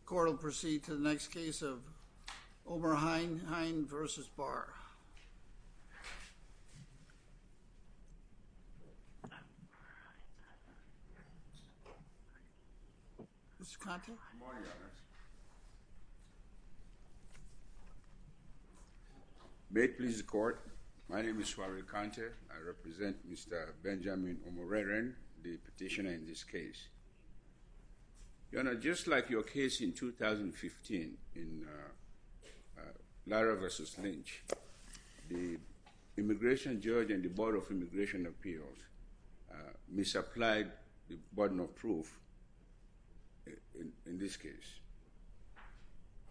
The court will proceed to the next case of Omorheinhien v. Barr. Mr. Conte. Good morning, Your Honor. May it please the court, my name is Swariel Conte. I represent Mr. Benjamin Omorheiren, the petitioner in this case. Your Honor, just like your case in 2015, in Lara v. Lynch, the immigration judge and the Board of Immigration Appeals misapplied the burden of proof in this case.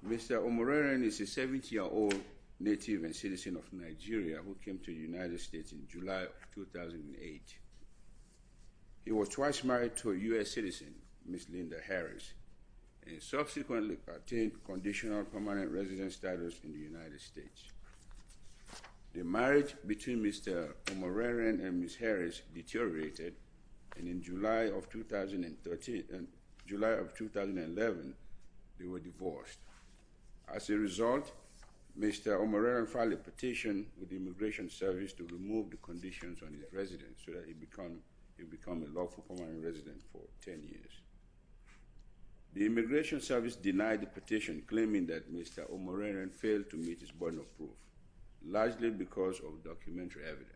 Mr. Omorheiren is a 70-year-old native and citizen of Nigeria who came to the United States in July 2008. He was twice married to a U.S. citizen, Ms. Linda Harris, and subsequently attained conditional permanent residence status in the United States. The marriage between Mr. Omorheiren and Ms. Harris deteriorated, and in July of 2011, they were divorced. As a result, Mr. Omorheiren filed a petition with the Immigration Service to remove the conditions on his residence so that he become a lawful permanent resident for 10 years. The Immigration Service denied the petition, claiming that Mr. Omorheiren failed to meet his burden of proof, largely because of documentary evidence.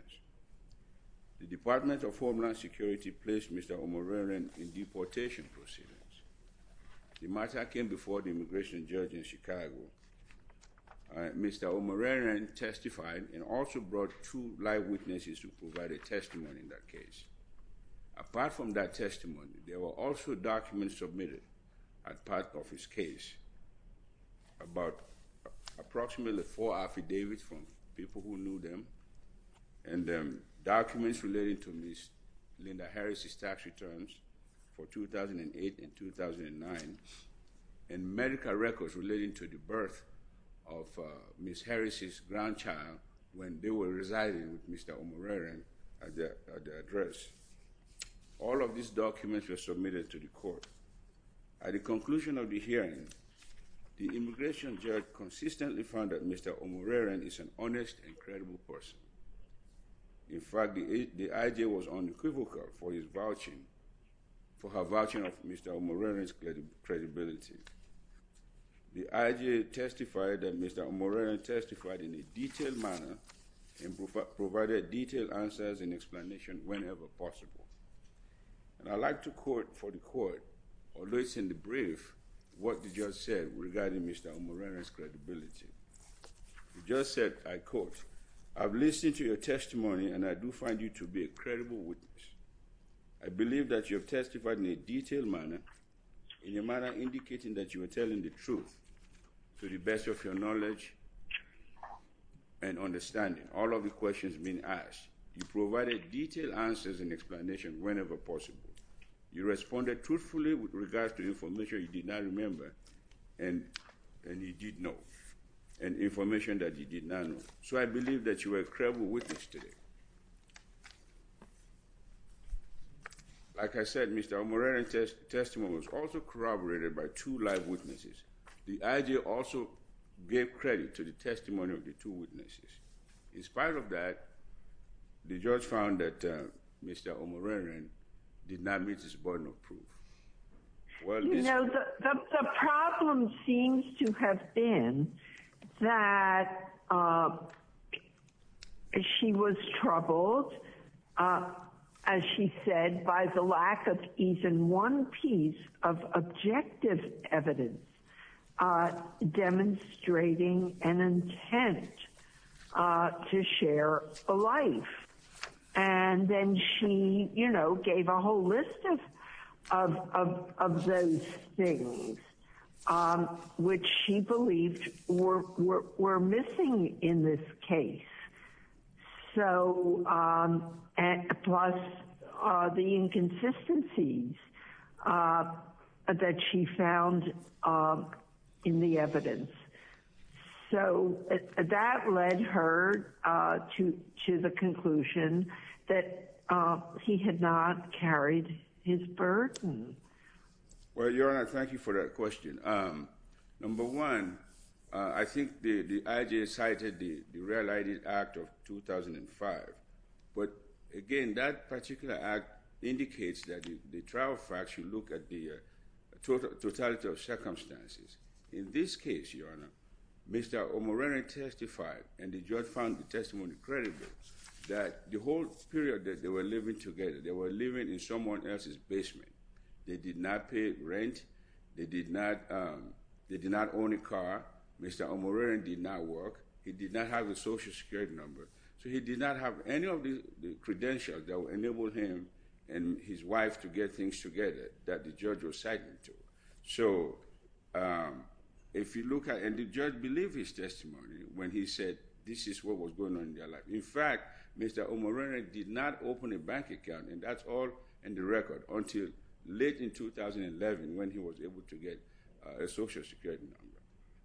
The Department of Homeland Security placed Mr. Omorheiren in deportation proceedings. Mr. Omorheiren testified and also brought two live witnesses to provide a testimony in that case. Apart from that testimony, there were also documents submitted as part of his case, about approximately four affidavits from people who knew them, and documents relating to Ms. Linda Harris' tax returns for 2008 and 2009, and medical records relating to the birth of Ms. Harris' grandchild when they were residing with Mr. Omorheiren at the address. All of these documents were submitted to the court. At the conclusion of the hearing, the immigration judge consistently found that Mr. Omorheiren is an honest and credible person. In fact, the IJ was unequivocal for her vouching of Mr. Omorheiren's credibility. The IJ testified that Mr. Omorheiren testified in a detailed manner and provided detailed answers and explanations whenever possible. And I'd like to quote for the court, although it's in the brief, what the judge said regarding Mr. Omorheiren's credibility. He just said, I quote, I've listened to your testimony and I do find you to be a credible witness. I believe that you have testified in a detailed manner, in a manner indicating that you are telling the truth to the best of your knowledge and understanding. All of the questions being asked, you provided detailed answers and explanations whenever possible. You responded truthfully with regards to information you did not remember and you did know. And information that you did not know. So I believe that you are a credible witness today. Like I said, Mr. Omorheiren's testimony was also corroborated by two live witnesses. The IJ also gave credit to the testimony of the two witnesses. In spite of that, the judge found that Mr. Omorheiren did not meet his burden of proof. You know, the problem seems to have been that she was troubled, as she said, by the lack of even one piece of objective evidence demonstrating an intent to share a life. And then she, you know, gave a whole list of those things, which she believed were missing in this case. So, plus the inconsistencies that she found in the evidence. So, that led her to the conclusion that he had not carried his burden. Well, Your Honor, thank you for that question. Number one, I think the IJ cited the Real ID Act of 2005. But, again, that particular act indicates that the trial facts should look at the totality of circumstances. In this case, Your Honor, Mr. Omorheiren testified, and the judge found the testimony credible, that the whole period that they were living together, they were living in someone else's basement. They did not pay rent. They did not own a car. Mr. Omorheiren did not work. He did not have a social security number. So, he did not have any of the credentials that would enable him and his wife to get things together that the judge was citing to. So, if you look at, and the judge believed his testimony when he said this is what was going on in their life. In fact, Mr. Omorheiren did not open a bank account, and that's all in the record, until late in 2011 when he was able to get a social security number.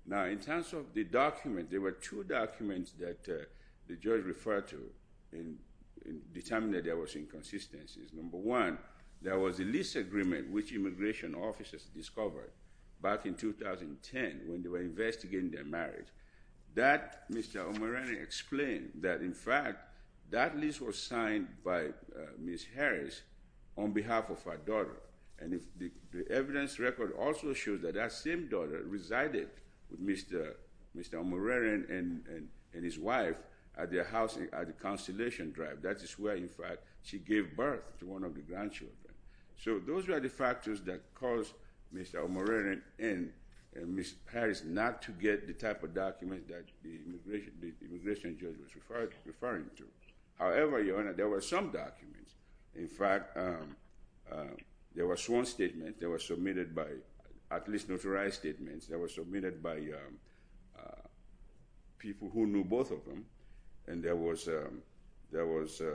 Now, in terms of the document, there were two documents that the judge referred to and determined that there was inconsistencies. Number one, there was a lease agreement which immigration officers discovered back in 2010 when they were investigating their marriage. That, Mr. Omorheiren explained, that in fact, that lease was signed by Ms. Harris on behalf of her daughter. And the evidence record also shows that that same daughter resided with Mr. Omorheiren and his wife at their house at the Constellation Drive. That is where, in fact, she gave birth to one of the grandchildren. So, those were the factors that caused Mr. Omorheiren and Ms. Harris not to get the type of documents that the immigration judge was referring to. However, Your Honor, there were some documents. In fact, there was one statement that was submitted by, at least notarized statements, that was submitted by people who knew both of them. And there was a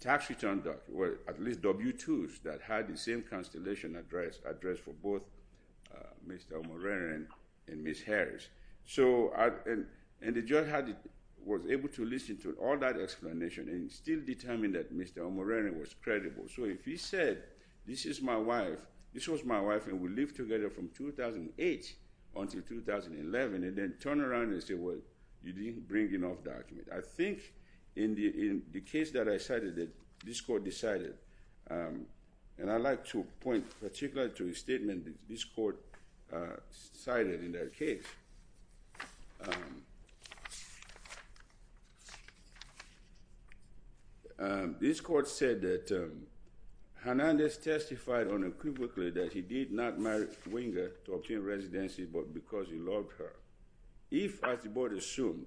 tax return document, at least W-2s, that had the same Constellation address for both Mr. Omorheiren and Ms. Harris. So, and the judge was able to listen to all that explanation and still determined that Mr. Omorheiren was credible. So, if he said, this is my wife, this was my wife and we lived together from 2008 until 2011, and then turned around and said, well, you didn't bring enough documents. I think in the case that I cited, this court decided, and I'd like to point particularly to a statement this court cited in that case. This court said that Hernandez testified unequivocally that he did not marry Winger to obtain residency, but because he loved her. If, as the board assumed,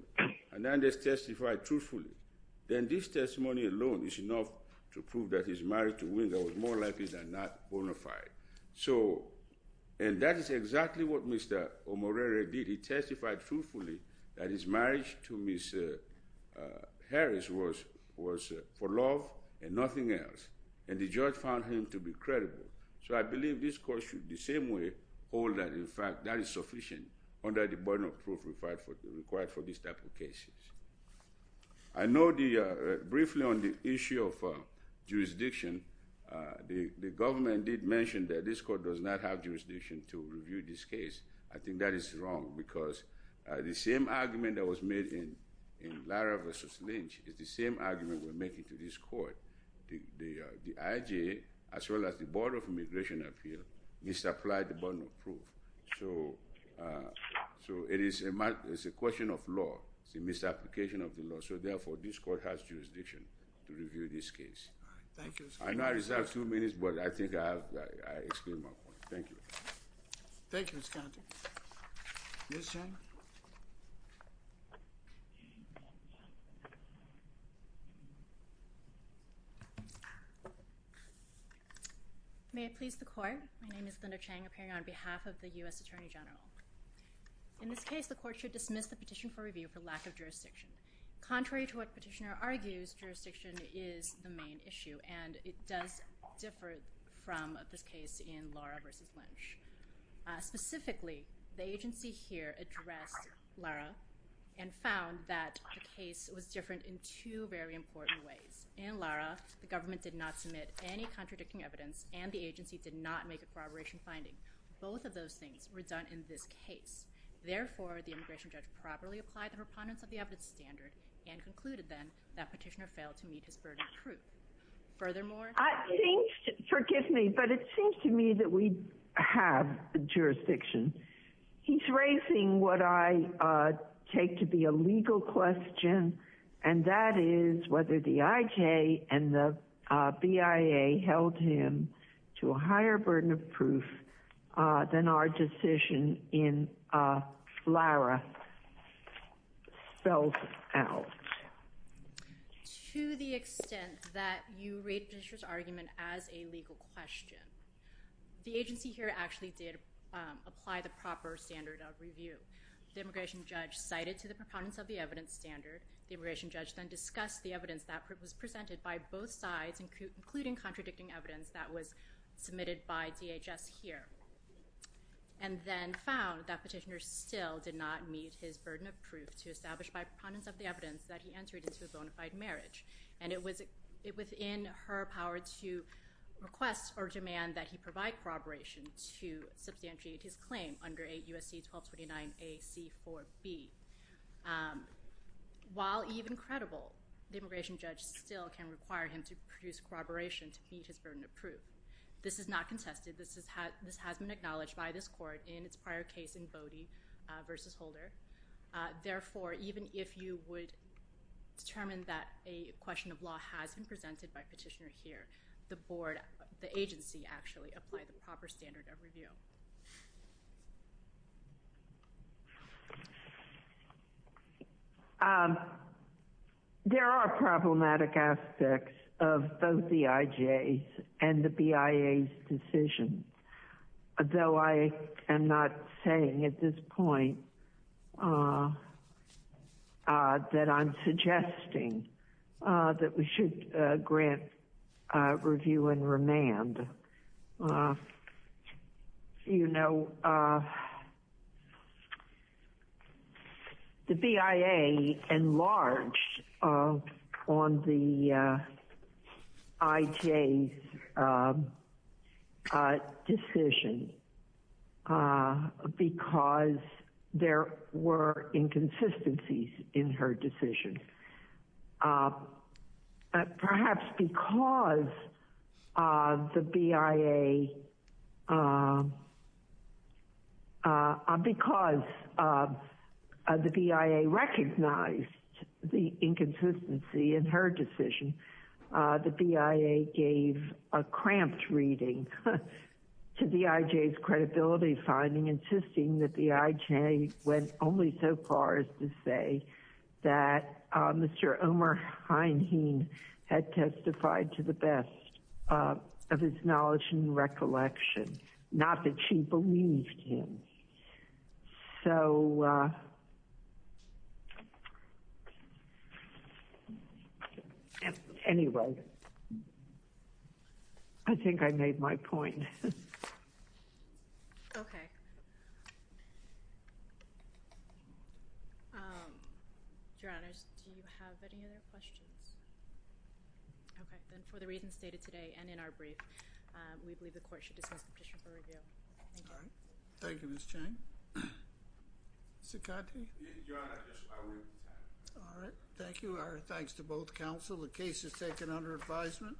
Hernandez testified truthfully, then this testimony alone is enough to prove that his marriage to Winger was more likely than not bona fide. So, and that is exactly what Mr. Omorheiren did. He testified truthfully that his marriage to Ms. Harris was for love and nothing else. And the judge found him to be credible. So, I believe this court should the same way hold that, in fact, that is sufficient under the burden of proof required for this type of cases. I know the, briefly on the issue of jurisdiction, the government did mention that this court does not have jurisdiction to review this case. I think that is wrong because the same argument that was made in Lara versus Lynch is the same argument we're making to this court. The IJ, as well as the Board of Immigration Appeal, misapplied the burden of proof. So, it is a question of law. It's a misapplication of the law. So, therefore, this court has jurisdiction to review this case. I know I reserved two minutes, but I think I explained my point. Thank you. Thank you, Mr. Conti. Ms. Chen? May it please the court. My name is Linda Cheng, appearing on behalf of the U.S. Attorney General. In this case, the court should dismiss the petition for review for lack of jurisdiction. Contrary to what petitioner argues, jurisdiction is the main issue, and it does differ from this case in Lara versus Lynch. Specifically, the agency here addressed Lara and found that the case was different in two very important ways. First of all, the government did not submit any contradicting evidence, and the agency did not make a corroboration finding. Both of those things were done in this case. Therefore, the immigration judge properly applied the preponderance of the evidence standard and concluded, then, that petitioner failed to meet his burden of proof. Furthermore... Forgive me, but it seems to me that we have jurisdiction. He's raising what I take to be a legal question, and that is whether the IJ and the BIA held him to a higher burden of proof than our decision in Lara spells out. To the extent that you rate petitioner's argument as a legal question, the agency here actually did apply the proper standard of review. The immigration judge cited to the preponderance of the evidence standard. The immigration judge then discussed the evidence that was presented by both sides, including contradicting evidence that was submitted by DHS here, and then found that petitioner still did not meet his burden of proof to establish by preponderance of the evidence that he entered into a bona fide marriage. And it was within her power to request or demand that he provide corroboration to substantiate his claim under 8 U.S.C. 1229 A.C. 4B. While even credible, the immigration judge still can require him to produce corroboration to meet his burden of proof. This is not contested. This has been acknowledged by this court in its prior case in Bodie v. Holder. Therefore, even if you would determine that a question of law has been presented by petitioner here, the agency actually applied the proper standard of review. There are problematic aspects of both the IJ's and the BIA's decision, though I am not saying at this point that I'm suggesting that we should grant review and remand. You know, the BIA enlarged on the IJ's decision because there were inconsistencies in her decision. Perhaps because the BIA recognized the inconsistency in her decision, the BIA gave a cramped reading to the IJ's credibility finding, insisting that the IJ went only so far as to say that Mr. Omer Heinhein had testified to the best of his knowledge and recollection, not that she believed him. So anyway, I think I made my point. Okay. Your Honor, do you have any other questions? Okay, then for the reasons stated today and in our brief, we believe the court should dismiss the petition for review. Thank you. Thank you, Ms. Chang. Second? Your Honor, I will remove the time. All right. Thank you. Our thanks to both counsel. The case is taken under advisement.